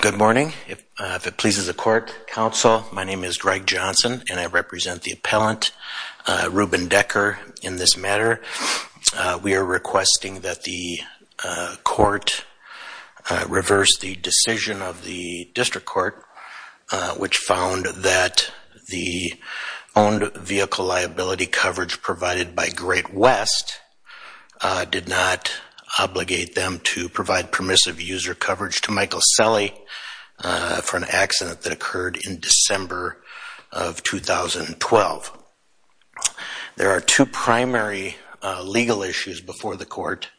Good morning. If it pleases the court, counsel, my name is Greg Johnson and I represent the appellant, Ruben Decker, in this matter. We are requesting that the court reverse the decision of the district court which found that the owned vehicle liability coverage provided by Great West did not obligate them to provide permissive user coverage to Michael Selle for an accident that occurred in December of 2012. There are two primary legal issues before the court.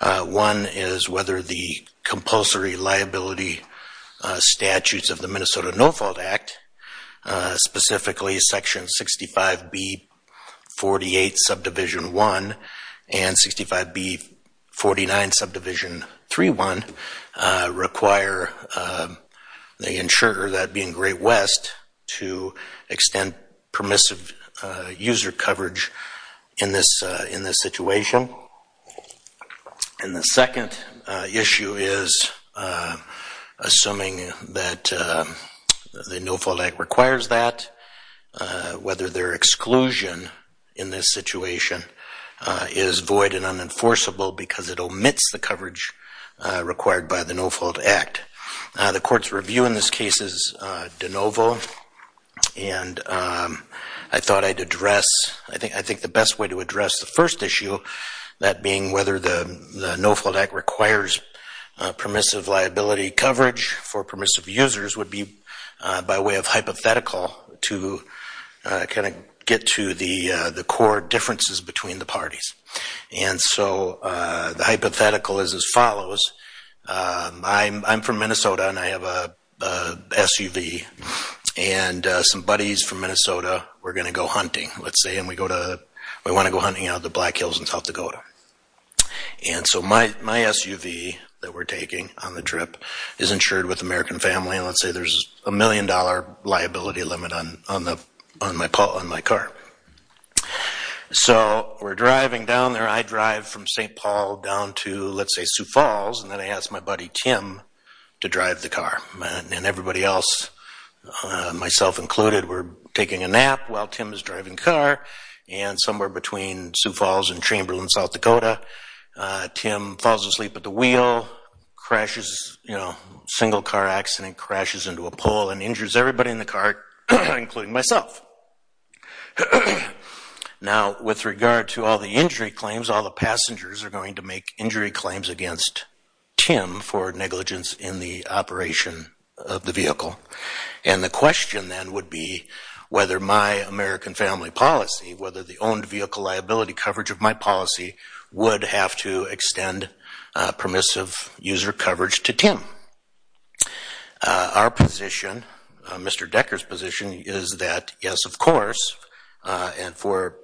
One is whether the compulsory liability statutes of the Minnesota No-Fault Act, specifically Section 65B48, Subdivision 1 and 65B49, Subdivision 3.1 require, they ensure that being Great West to extend permissive user coverage in this situation. And the second issue is, assuming that the No-Fault Act requires that, whether their exclusion in this situation is void and unenforceable because it omits the coverage required by the No-Fault Act. The court's review in this case is de novo and I thought I'd address, I think the best way to address the first issue, that being whether the No-Fault Act requires permissive liability coverage for permissive users would be, by way of hypothetical, to kind of get to the core differences between the parties. And so the hypothetical is as follows. I'm from Minnesota and I have a SUV and some buddies from Minnesota, we're going to go hunting, let's say, and we want to go hunting out of the Black Hills in South Dakota. And so my SUV that we're taking on the trip is insured with American Family and let's say there's a million dollar liability limit on my car. So we're driving down there, I drive from St. Paul down to, let's say, Sioux Falls and then I ask my buddy Tim to drive the car. And everybody else, myself included, we're taking a nap while Tim is driving the car. And somewhere between Sioux Falls and Chamberlain, South Dakota, Tim falls asleep at the wheel, crashes, you know, single car accident, crashes into a pole and injures everybody in the car, including myself. Now with regard to all the injury claims, all the passengers are going to make injury claims against Tim for negligence in the operation of the vehicle. And the question then would be whether my American Family policy, whether the owned vehicle liability coverage of my policy would have to extend permissive user coverage to Tim. Our position, Mr. Decker's position, is that yes, of course, and for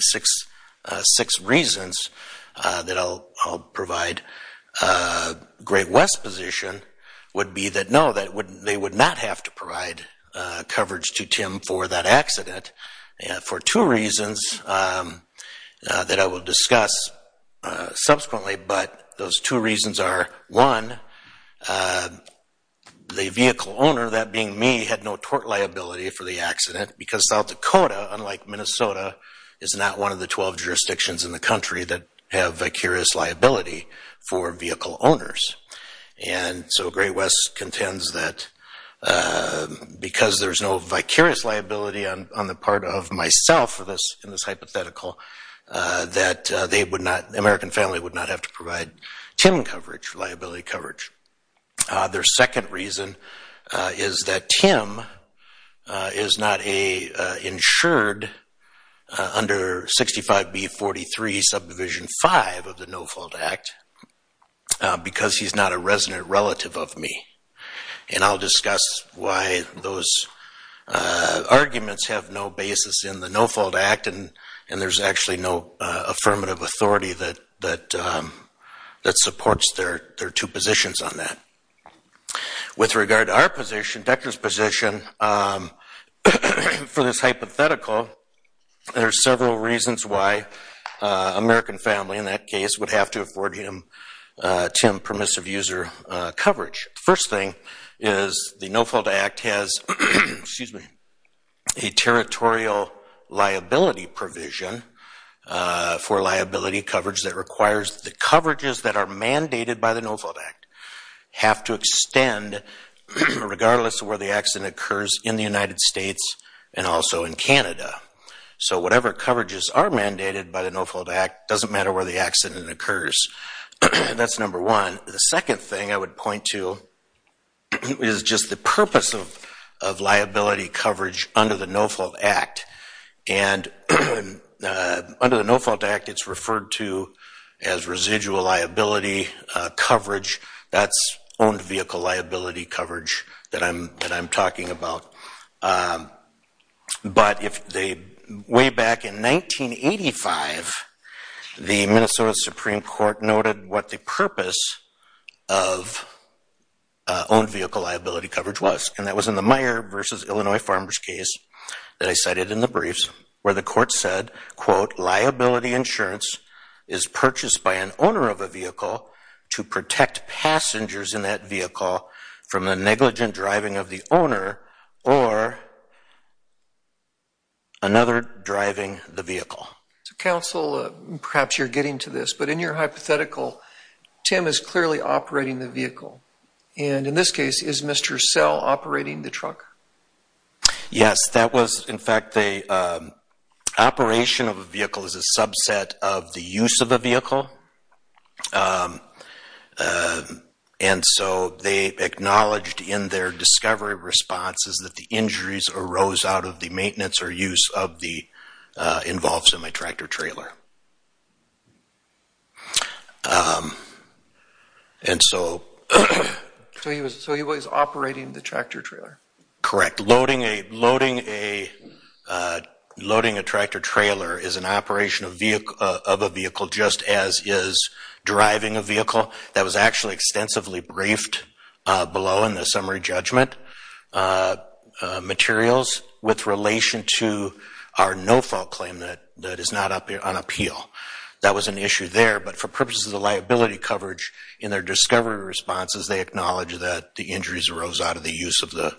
six reasons that I'll provide, Great West's position would be that no, they would not have to provide coverage to Tim for that accident. For two reasons that I will discuss subsequently, but those two reasons are, one, the vehicle owner, that being me, had no tort liability for the accident because South Dakota, unlike Minnesota, is not one of the 12 jurisdictions in the country that have vicarious liability for vehicle owners. And so Great West contends that because there's no vicarious liability on the part of myself in this hypothetical, that they would not, the American Family would not have to provide Tim coverage, liability coverage. Their second reason is that Tim is not a insured under 65B43 Subdivision 5 of the No Fault Act because he's not a resident relative of me. And I'll discuss why those arguments have no basis in the No Fault Act and there's actually no affirmative authority that supports their two positions on that. With regard to our position, Decker's position, for this hypothetical, there's several reasons why American Family, in that case, would have to afford him, Tim, liability provision for liability coverage that requires the coverages that are mandated by the No Fault Act have to extend regardless of where the accident occurs in the United States and also in Canada. So whatever coverages are mandated by the No Fault Act doesn't matter where the accident occurs. That's number one. The second thing I would point to is just the purpose of liability coverage under the No Fault Act and under the No Fault Act, it's referred to as residual liability coverage. That's owned vehicle liability coverage that I'm talking about. But if they, way back in 1985, the Minnesota Supreme Court noted what the purpose of owned vehicle liability coverage was and that was in the briefs where the court said, quote, liability insurance is purchased by an owner of a vehicle to protect passengers in that vehicle from a negligent driving of the owner or another driving the vehicle. Counsel, perhaps you're getting to this, but in your hypothetical, Tim is clearly operating the vehicle. And in this case, is Mr. Sell operating the truck? Yes. That was, in fact, the operation of a vehicle is a subset of the use of a vehicle. And so they acknowledged in their discovery responses that the injuries arose out of the maintenance or use of the involved semi-tractor-trailer. And so he was operating the tractor-trailer? Correct. Loading a tractor-trailer is an operation of a vehicle just as is driving a vehicle. That was actually extensively briefed below in the summary That was an issue there, but for purposes of liability coverage in their discovery responses, they acknowledged that the injuries arose out of the use of the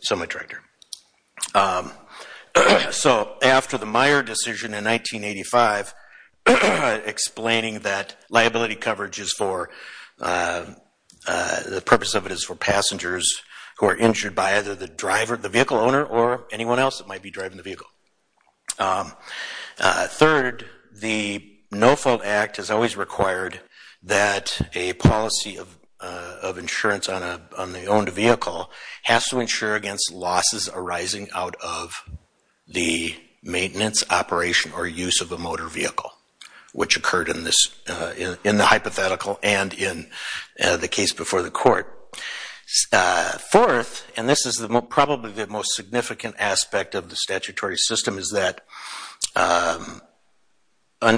semi-tractor. So after the Meyer decision in 1985 explaining that liability coverage is for, the purpose of it is for passengers who are injured by either the driver, the vehicle Third, the No Fault Act has always required that a policy of insurance on the owned vehicle has to insure against losses arising out of the maintenance, operation, or use of a motor vehicle, which occurred in the hypothetical and in the case before the court. Fourth, and this is probably the most significant aspect of the statutory system, is that under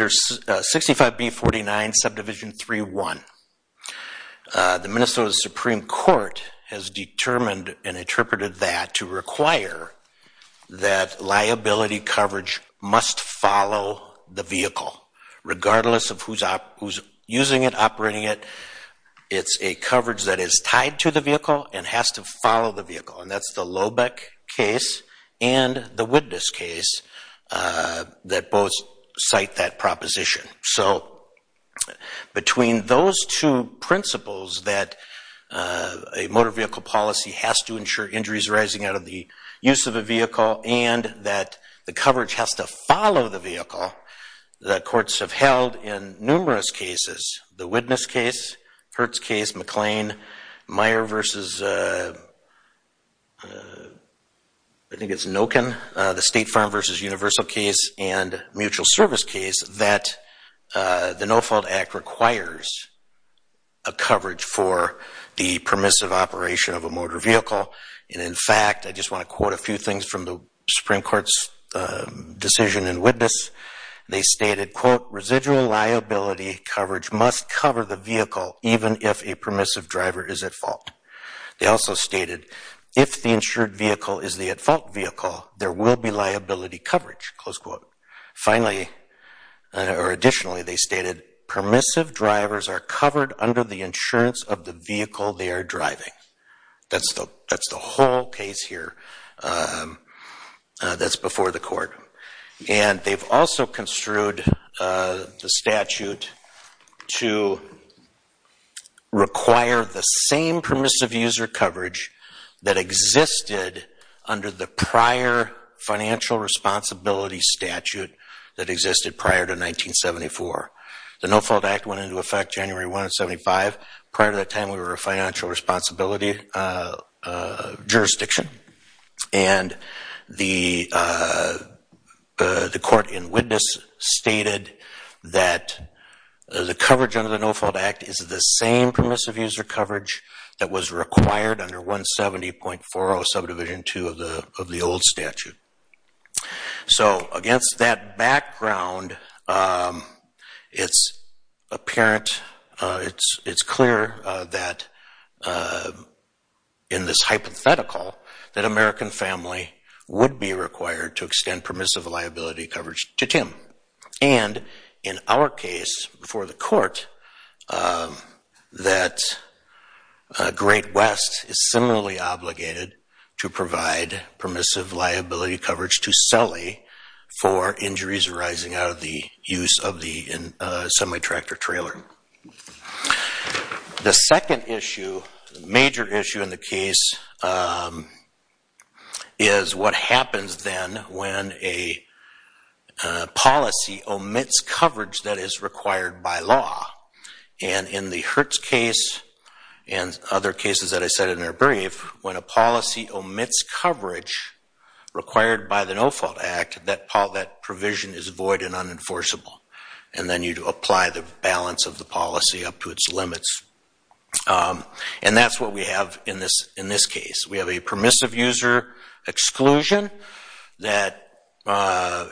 65B49 Subdivision 3.1, the Minnesota Supreme Court has determined and interpreted that to require that liability coverage must follow the vehicle, regardless of who's using it, operating it. It's a coverage that is tied to the vehicle and has to follow the vehicle, and that's the Lobeck case and the Witness case that both cite that proposition. So between those two principles that a motor vehicle policy has to insure injuries arising out of the use of a vehicle and that the coverage has to follow the vehicle, the courts have held in numerous cases, the Witness case, Hertz case, McLean, Meyer versus, I think it's Noken, the State Farm versus Universal case, and Mutual Service case, that the No Fault Act requires a coverage for the permissive operation of a motor vehicle. And in fact, I just want to quote a few things from the Supreme Court's decision in Witness. They stated, quote, residual liability coverage must cover the vehicle, even if a permissive driver is at fault. They also stated, if the insured vehicle is the at-fault vehicle, there will be liability coverage, close quote. Finally, or additionally, they stated, permissive drivers are covered under the insurance of the vehicle they are driving. That's the whole case here that's before the court. And they've also construed the statute to require the same permissive user coverage that existed under the prior financial responsibility statute that existed prior to 1974. The No Fault Act went into effect January 1 of 75. Prior to that time, we were a financial responsibility jurisdiction. And the court in Witness stated that the coverage under the No Fault Act is the same permissive user coverage that was required under 170.40 subdivision 2 of the old statute. So against that background, it's apparent, it's clear that in this hypothetical that American family would be required to extend permissive liability coverage to Tim. And in our case before the court, that Great West is similarly obligated to provide permissive liability coverage to Sully for injuries arising out of the use of the semi-tractor trailer. The second issue, major issue in the case, is what happens then when a policy omits coverage that is required by law. And in the Hertz case and other cases that I said in their brief, when a policy omits coverage required by the No Fault Act, that provision is void and unenforceable. And then you apply the balance of the policy up to its limits. And that's what we have in this case. We have a permissive user exclusion that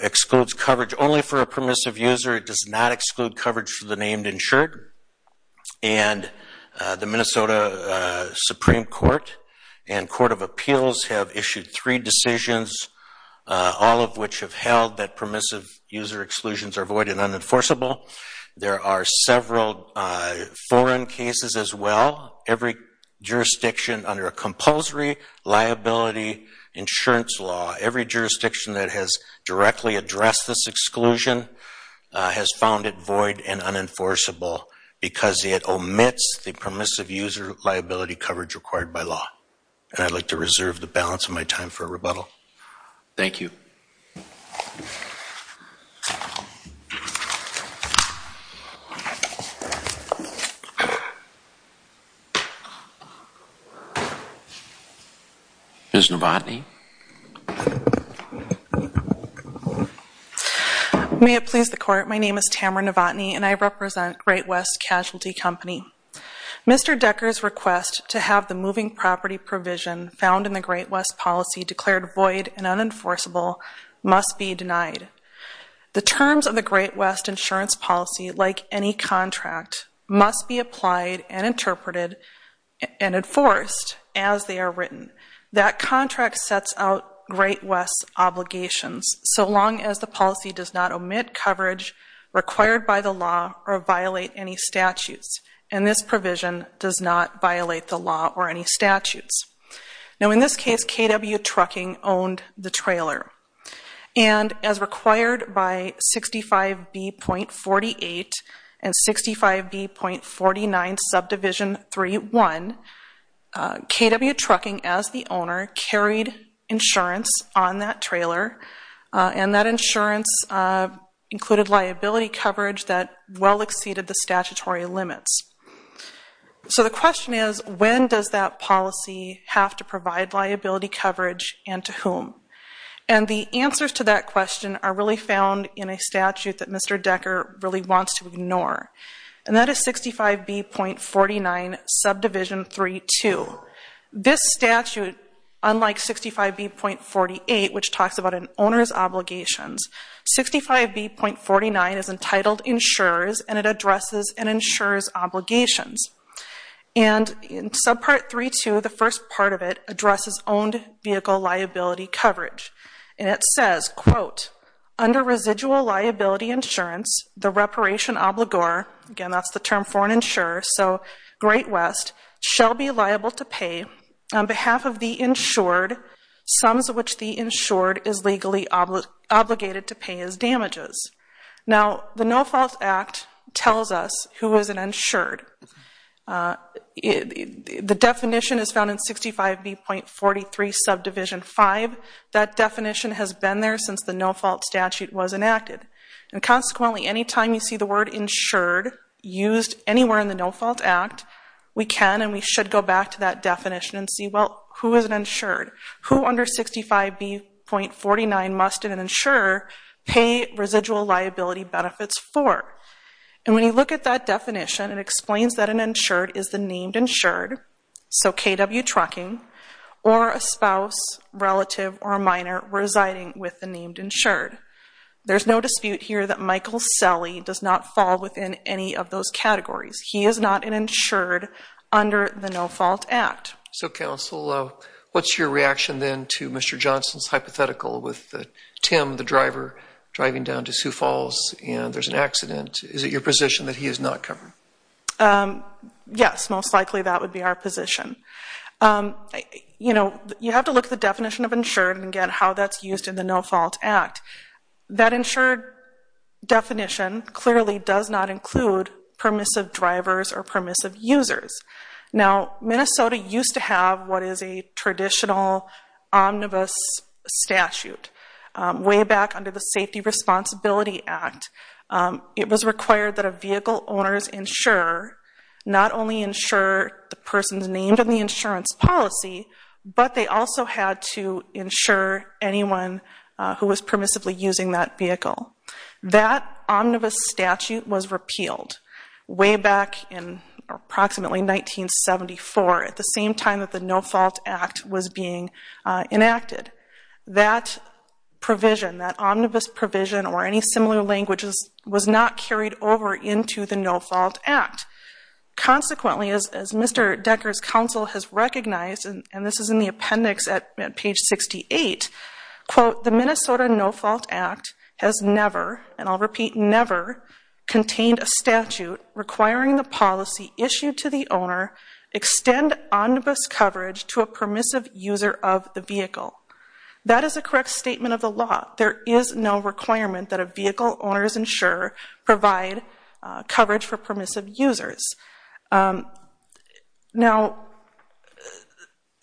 excludes coverage only for a permissive user. It does not exclude coverage for the named insured. And the Minnesota Supreme Court and Court of Appeals have issued three decisions, all of which have held that permissive user exclusions are void and unenforceable. There are several foreign cases as well. Every jurisdiction under a compulsory liability insurance law, every jurisdiction that has directly addressed this exclusion, has found it void and unenforceable because it omits the permissive user liability coverage required by law. And I'd like to reserve the balance of my time for rebuttal. Thank you. Ms. Novotny. May it please the court, my name is Tamara Novotny and I represent Great West Casualty Company. Mr. Decker's request to have the moving property provision found in the Great West policy declared void and unenforceable must be denied. The terms of the Great West insurance policy, like any contract, must be applied and interpreted and enforced as they are written. That contract sets out Great West's obligations so long as the policy does not omit coverage required by the law or violate any statutes. And this provision does not violate the law or any statutes. Now in this case, KW Trucking owned the trailer. And as required by 65B.48 and 65B.49 subdivision 3.1, KW Trucking, as the owner, carried insurance on that trailer. And that insurance included liability coverage that well exceeded the statutory limits. So the question is, when does that policy have to provide liability coverage and to whom? And the answers to that question are really found in a statute that Mr. Decker really wants to ignore. And that is 65B.49 subdivision 3.2. This statute, unlike 65B.48, which talks about an owner's obligations, 65B.49 is entitled insurers and it addresses an insurer's obligations. And in subpart 3.2, the first part of it addresses owned vehicle liability coverage. And it says, quote, under residual liability insurance, the reparation obligor, again that's the term for an insurer, so Great West, shall be liable to pay on behalf of the insured, sums of which the insured is legally obligated to pay as damages. Now the No Fault Act tells us who is an insured. The definition is found in 65B.43 subdivision 5. That definition has been there since the No Fault statute was enacted. And consequently, any time you see the word insured used anywhere in the No Fault Act, we can and we should go back to that definition and see, well, who is an insured? Who under 65B.49 must an insurer pay residual liability benefits for? And when you look at that definition, it explains that an insured is the named insured, so KW Trucking, or a spouse, relative, or minor residing with the named insured. There's no dispute here that Michael Selle does not fall within any of those categories. He is not an insured under the No Fault Act. So, Counsel, what's your reaction then to Mr. Johnson's hypothetical with Tim, the driver, driving down to Sioux Falls and there's an accident. Is it your position that he is not covered? Yes, most likely that would be our position. You know, you have to look at the definition of insured and get how that's used in the No Fault Act. That insured definition clearly does not include permissive drivers or permissive users. Now, Minnesota used to have what is a traditional omnibus statute way back under the Safety Responsibility Act. It was required that a vehicle owner's insurer not only insure the person's named in the insurance policy, but they also had to insure anyone who was permissively using that vehicle. That omnibus statute was repealed way back in approximately 1974, at the same time that the No Fault Act was being enacted. That provision, that omnibus provision or any similar languages was not carried over into the No Fault Act. Consequently, as Mr. Decker's counsel has recognized, and this is in the appendix at page 68, quote, the Minnesota No Fault Act has never, and I'll repeat, never contained a statute requiring the policy issued to the owner extend omnibus coverage to a permissive user of the vehicle. That is a correct statement of the law. There is no requirement that a vehicle owner's insurer provide coverage for permissive users. Now,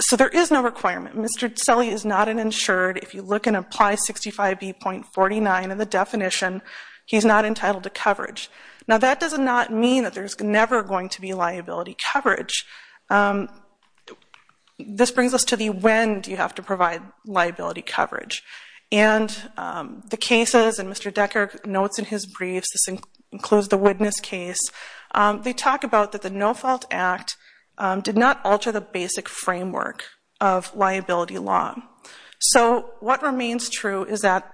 so there is no requirement. Mr. Tseli is not an insured. If you look in Apply 65B.49 in the definition, he's not entitled to coverage. Now, that does not mean that there's never going to be liability coverage. This brings us to the when do you have to provide liability coverage. And the cases, and Mr. Decker notes in his briefs, this includes the Witness case, they talk about that the No Fault Act did not alter the basic framework of liability law. So what remains true is that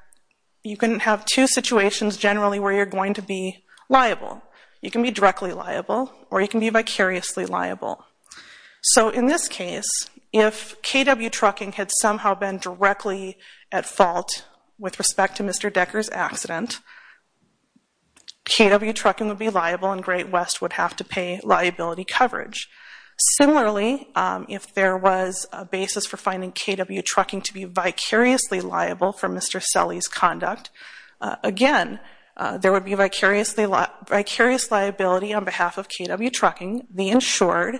you can have two situations generally where you're going to be liable. You can be directly liable or you can be vicariously liable. So in this case, if KW Trucking had somehow been directly at fault with respect to Mr. Decker's accident, KW Trucking would be liable and Great West would have to pay liability coverage. Similarly, if there was a basis for finding KW Trucking to be vicariously liable for Mr. Tseli's conduct, again, there would be vicarious liability on behalf of KW Trucking, the insured,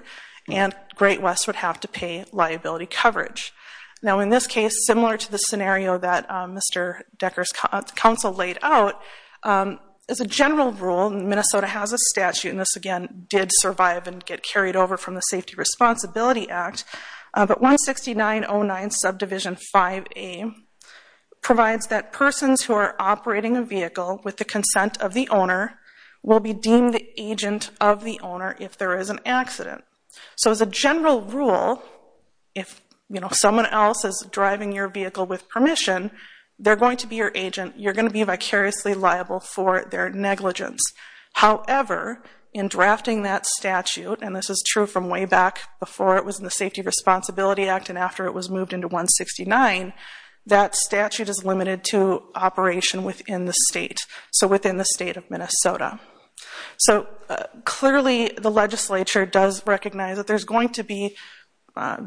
and Great West would have to pay liability coverage. Now in this case, similar to the scenario that Mr. Decker's counsel laid out, as a general rule, Minnesota has a statute, and this again did survive and get carried over from the Safety Responsibility Act, but 169.09 subdivision 5A provides that persons who are operating a vehicle with the consent of the owner will be deemed the agent of the owner if there is an accident. So as a general rule, if someone else is driving your vehicle with permission, they're going to be your agent, you're going to be vicariously liable for their negligence. However, in drafting that statute, and this is true from way back before it was in the Safety Responsibility Act and after it was moved into 169, that statute is limited to operation within the state, so within the state of Minnesota. So clearly the legislature does recognize that there's going to be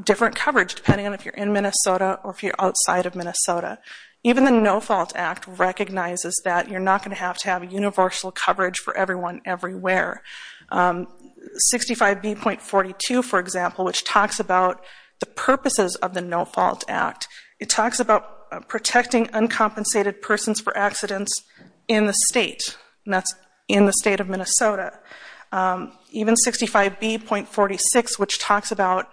different coverage depending on if you're in Minnesota or if you're outside of Minnesota. Even the No Fault Act recognizes that you're not going to have to have universal coverage for everyone everywhere. 65B.42, for example, which talks about the purposes of the No Fault Act, it talks about protecting uncompensated persons for accidents in the state, and that's in the state of Minnesota. Even 65B.46, which talks about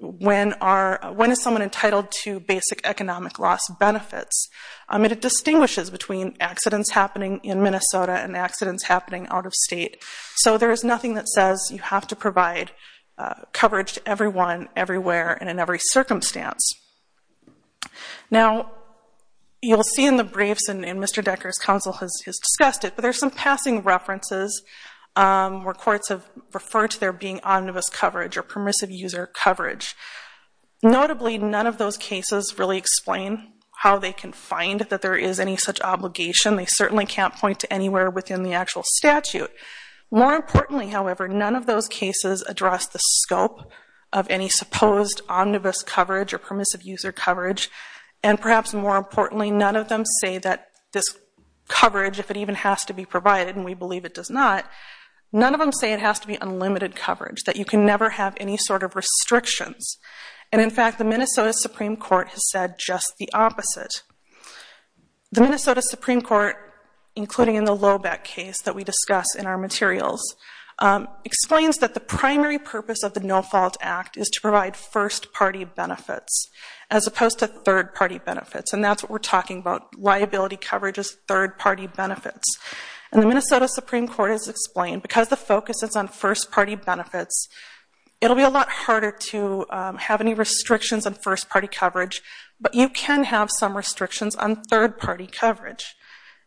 when is someone entitled to basic economic loss benefits, it distinguishes between accidents happening in Minnesota and accidents happening out of state. So there is nothing that says you have to provide coverage to everyone everywhere and in every circumstance. Now, you'll see in the briefs, and Mr. Decker's counsel has discussed it, but there's some passing references where courts have referred to there being omnibus coverage or permissive user coverage. Notably, none of those cases really explain how they can find that there is any such obligation. They certainly can't point to anywhere within the actual statute. More importantly, however, none of those cases address the scope of any supposed omnibus coverage or permissive user coverage. And perhaps more importantly, none of them say that this coverage, if it even has to be provided, and we believe it does not, none of them say it has to be unlimited coverage, that you can never have any sort of restrictions. And in fact, the Minnesota Supreme Court has said just the opposite. The Minnesota Supreme Court, including in the Lobeck case that we discuss in our materials, explains that the primary purpose of the No-Fault Act is to provide first-party benefits as opposed to third-party benefits, and that's what we're talking about. Liability coverage is third-party benefits. And the Minnesota Supreme Court has explained because the focus is on first-party benefits, it'll be a lot harder to have any restrictions on first-party coverage, but you can have some restrictions on third-party coverage.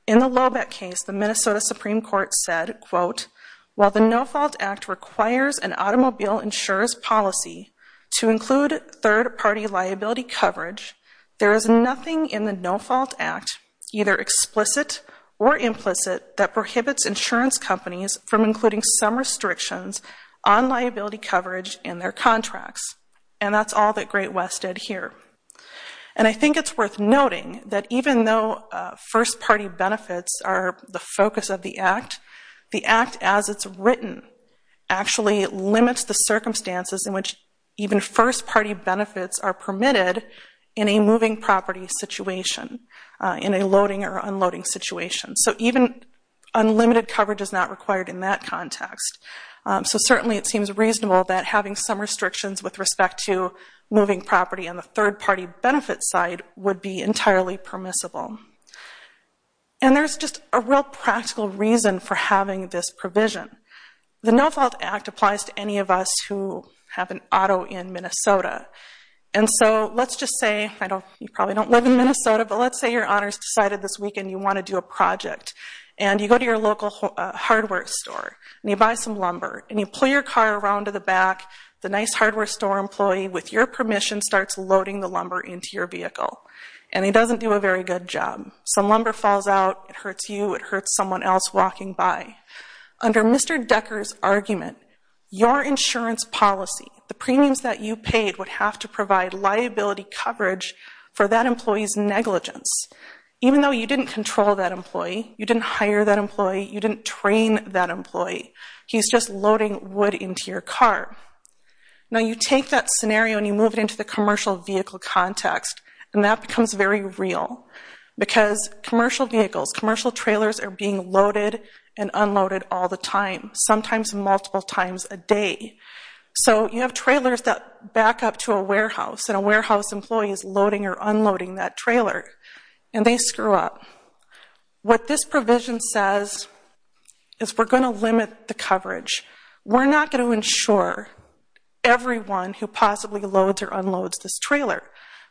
In the Lobeck case, the Minnesota Supreme Court said, quote, while the No-Fault Act requires an automobile insurer's policy to include third-party liability coverage, there is nothing in the No-Fault Act, either explicit or implicit, that prohibits insurance companies from including some restrictions on liability coverage in their contracts. And that's all that Great West did here. And I think it's worth noting that even though first-party benefits are the focus of the Act, the Act as it's written actually limits the circumstances in which even first-party benefits are permitted in a moving property situation, in a loading or unloading situation. So even unlimited coverage is not required in that context. So certainly it seems reasonable that having some restrictions with respect to moving property on the third-party benefit side would be entirely permissible. And there's just a real practical reason for having this provision. The No-Fault Act applies to any of us who have an auto in Minnesota. And so let's just say, you probably don't live in Minnesota, but let's say your owner's decided this weekend you want to do a project. And you go to your local hardware store, and you buy some lumber, and you pull your car around to the back. The nice hardware store employee, with your permission, starts loading the lumber into your vehicle. And he doesn't do a very good job. Some lumber falls out, it hurts you, it hurts someone else walking by. Under Mr. Decker's argument, your insurance policy, the premiums that you paid, would have to provide liability coverage for that employee's negligence. Even though you didn't control that employee, you didn't hire that employee, you didn't train that employee. He's just loading wood into your car. Now you take that scenario and you move it into the commercial vehicle context, and that becomes very real. Because commercial vehicles, commercial trailers are being loaded and unloaded all the time, sometimes multiple times a day. So you have trailers that back up to a warehouse, and a warehouse employee is loading or unloading that trailer. And they screw up. What this provision says is we're going to limit the coverage. We're not going to insure everyone who possibly loads or unloads this trailer.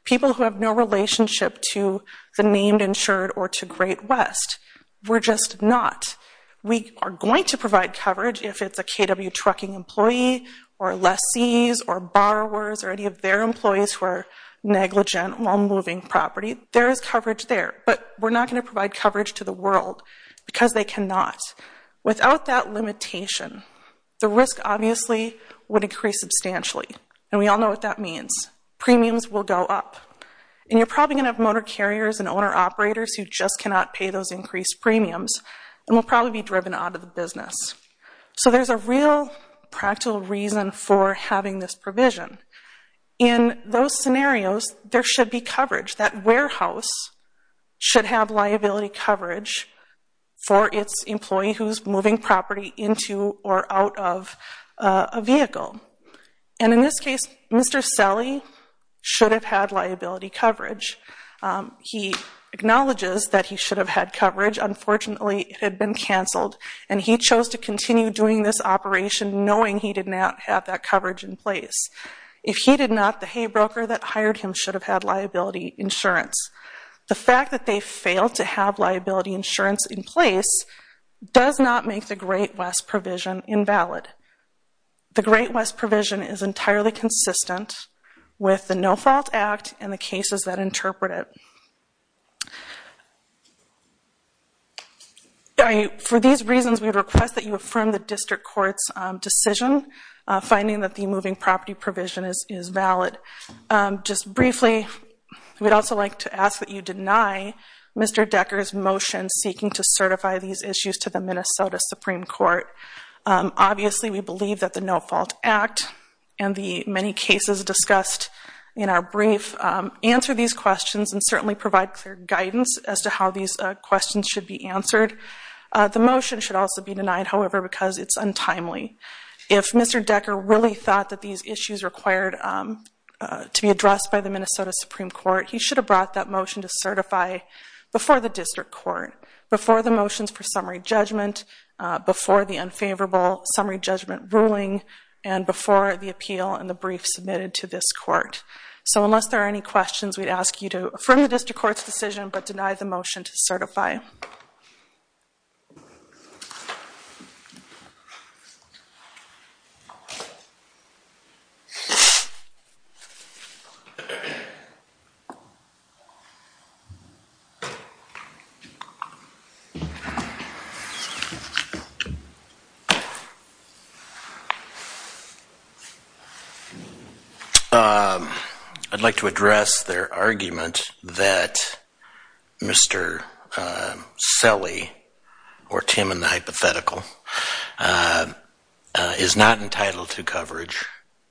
People who have no relationship to the named insured or to Great West. We're just not. We are going to provide coverage if it's a KW trucking employee, or lessees, or borrowers, or any of their employees who are negligent while moving property. There is coverage there, but we're not going to provide coverage to the world because they cannot. Without that limitation, the risk obviously would increase substantially. And we all know what that means. Premiums will go up. And you're probably going to have motor carriers and owner-operators who just cannot pay those increased premiums, and will probably be driven out of the business. So there's a real practical reason for having this provision. In those scenarios, there should be coverage. That warehouse should have liability coverage for its employee who's moving property into or out of a vehicle. And in this case, Mr. Selle should have had liability coverage. He acknowledges that he should have had coverage. Unfortunately, it had been canceled. And he chose to continue doing this operation knowing he did not have that coverage in place. If he did not, the hay broker that hired him should have had liability insurance. The fact that they failed to have liability insurance in place does not make the Great West provision invalid. The Great West provision is entirely consistent with the No Fault Act and the cases that interpret it. For these reasons, we would request that you affirm the district court's decision, finding that the moving property provision is valid. Just briefly, we'd also like to ask that you deny Mr. Decker's motion seeking to certify these issues to the Minnesota Supreme Court. Obviously, we believe that the No Fault Act and the many cases discussed in our brief answer these questions and certainly provide clear guidance as to how these questions should be answered. The motion should also be denied, however, because it's untimely. If Mr. Decker really thought that these issues required to be addressed by the Minnesota Supreme Court, he should have brought that motion to certify before the district court, before the motions for summary judgment, before the unfavorable summary judgment ruling, and before the appeal and the brief submitted to this court. So unless there are any questions, we'd ask you to affirm the district court's decision but deny the motion to certify. I'd like to address their argument that Mr. Selle or Tim in the hypothetical is not entitled to coverage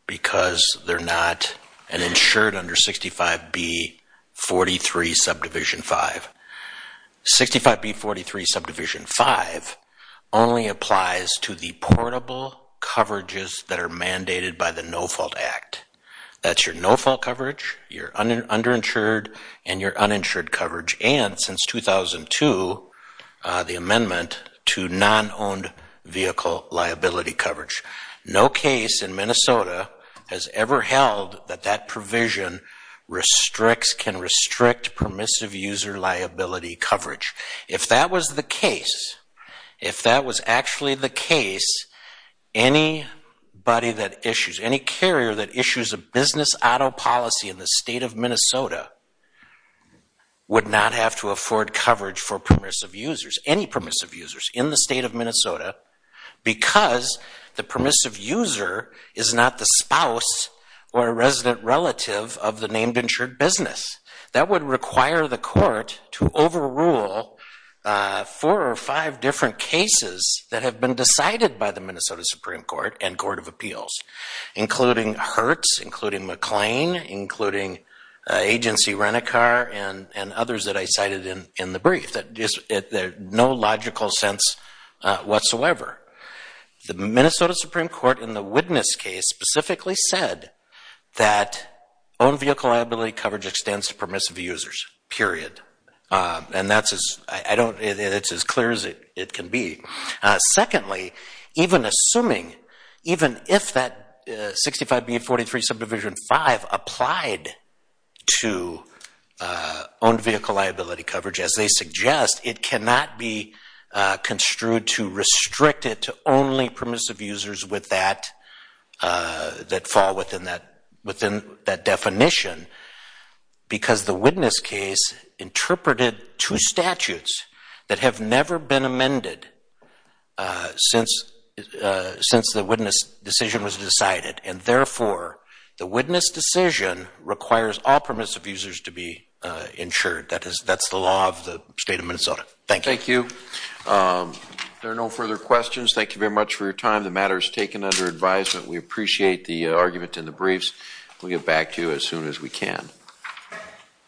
because they're not insured under 65B43 Subdivision 5. 65B43 Subdivision 5 only applies to the portable coverages that are mandated by the No Fault Act. That's your no fault coverage, your underinsured and your uninsured coverage and since 2002 the amendment to non-owned vehicle liability coverage. No case in Minnesota has ever held that that provision can restrict permissive user liability coverage. If that was the case, if that was actually the case, anybody that issues, any carrier that issues a business auto policy in the state of Minnesota would not have to afford coverage for permissive users, any permissive users in the state of Minnesota because the permissive user is not the spouse or a resident relative of the named insured business. That would require the court to overrule four or five different cases that have been decided by the Minnesota Supreme Court and Court of Appeals including Hertz, including McLean, including Agency Renicar and others that I cited in the brief. There's no logical sense whatsoever. The Minnesota Supreme Court in the Witness case specifically said that owned vehicle liability coverage extends to permissive users, period. And that's as clear as it can be. Secondly, even assuming, even if that 65B43 subdivision 5 applied to owned vehicle liability coverage as they suggest, it cannot be construed to restrict it to only permissive users that fall within that definition because the Witness case interpreted two statutes that have never been amended since the Witness decision was decided. And therefore, the Witness decision requires all permissive users to be insured. That's the law of the state of Minnesota. Thank you. Thank you. If there are no further questions, thank you very much for your time. The matter is taken under advisement. We appreciate the argument in the briefs. We'll get back to you as soon as we can.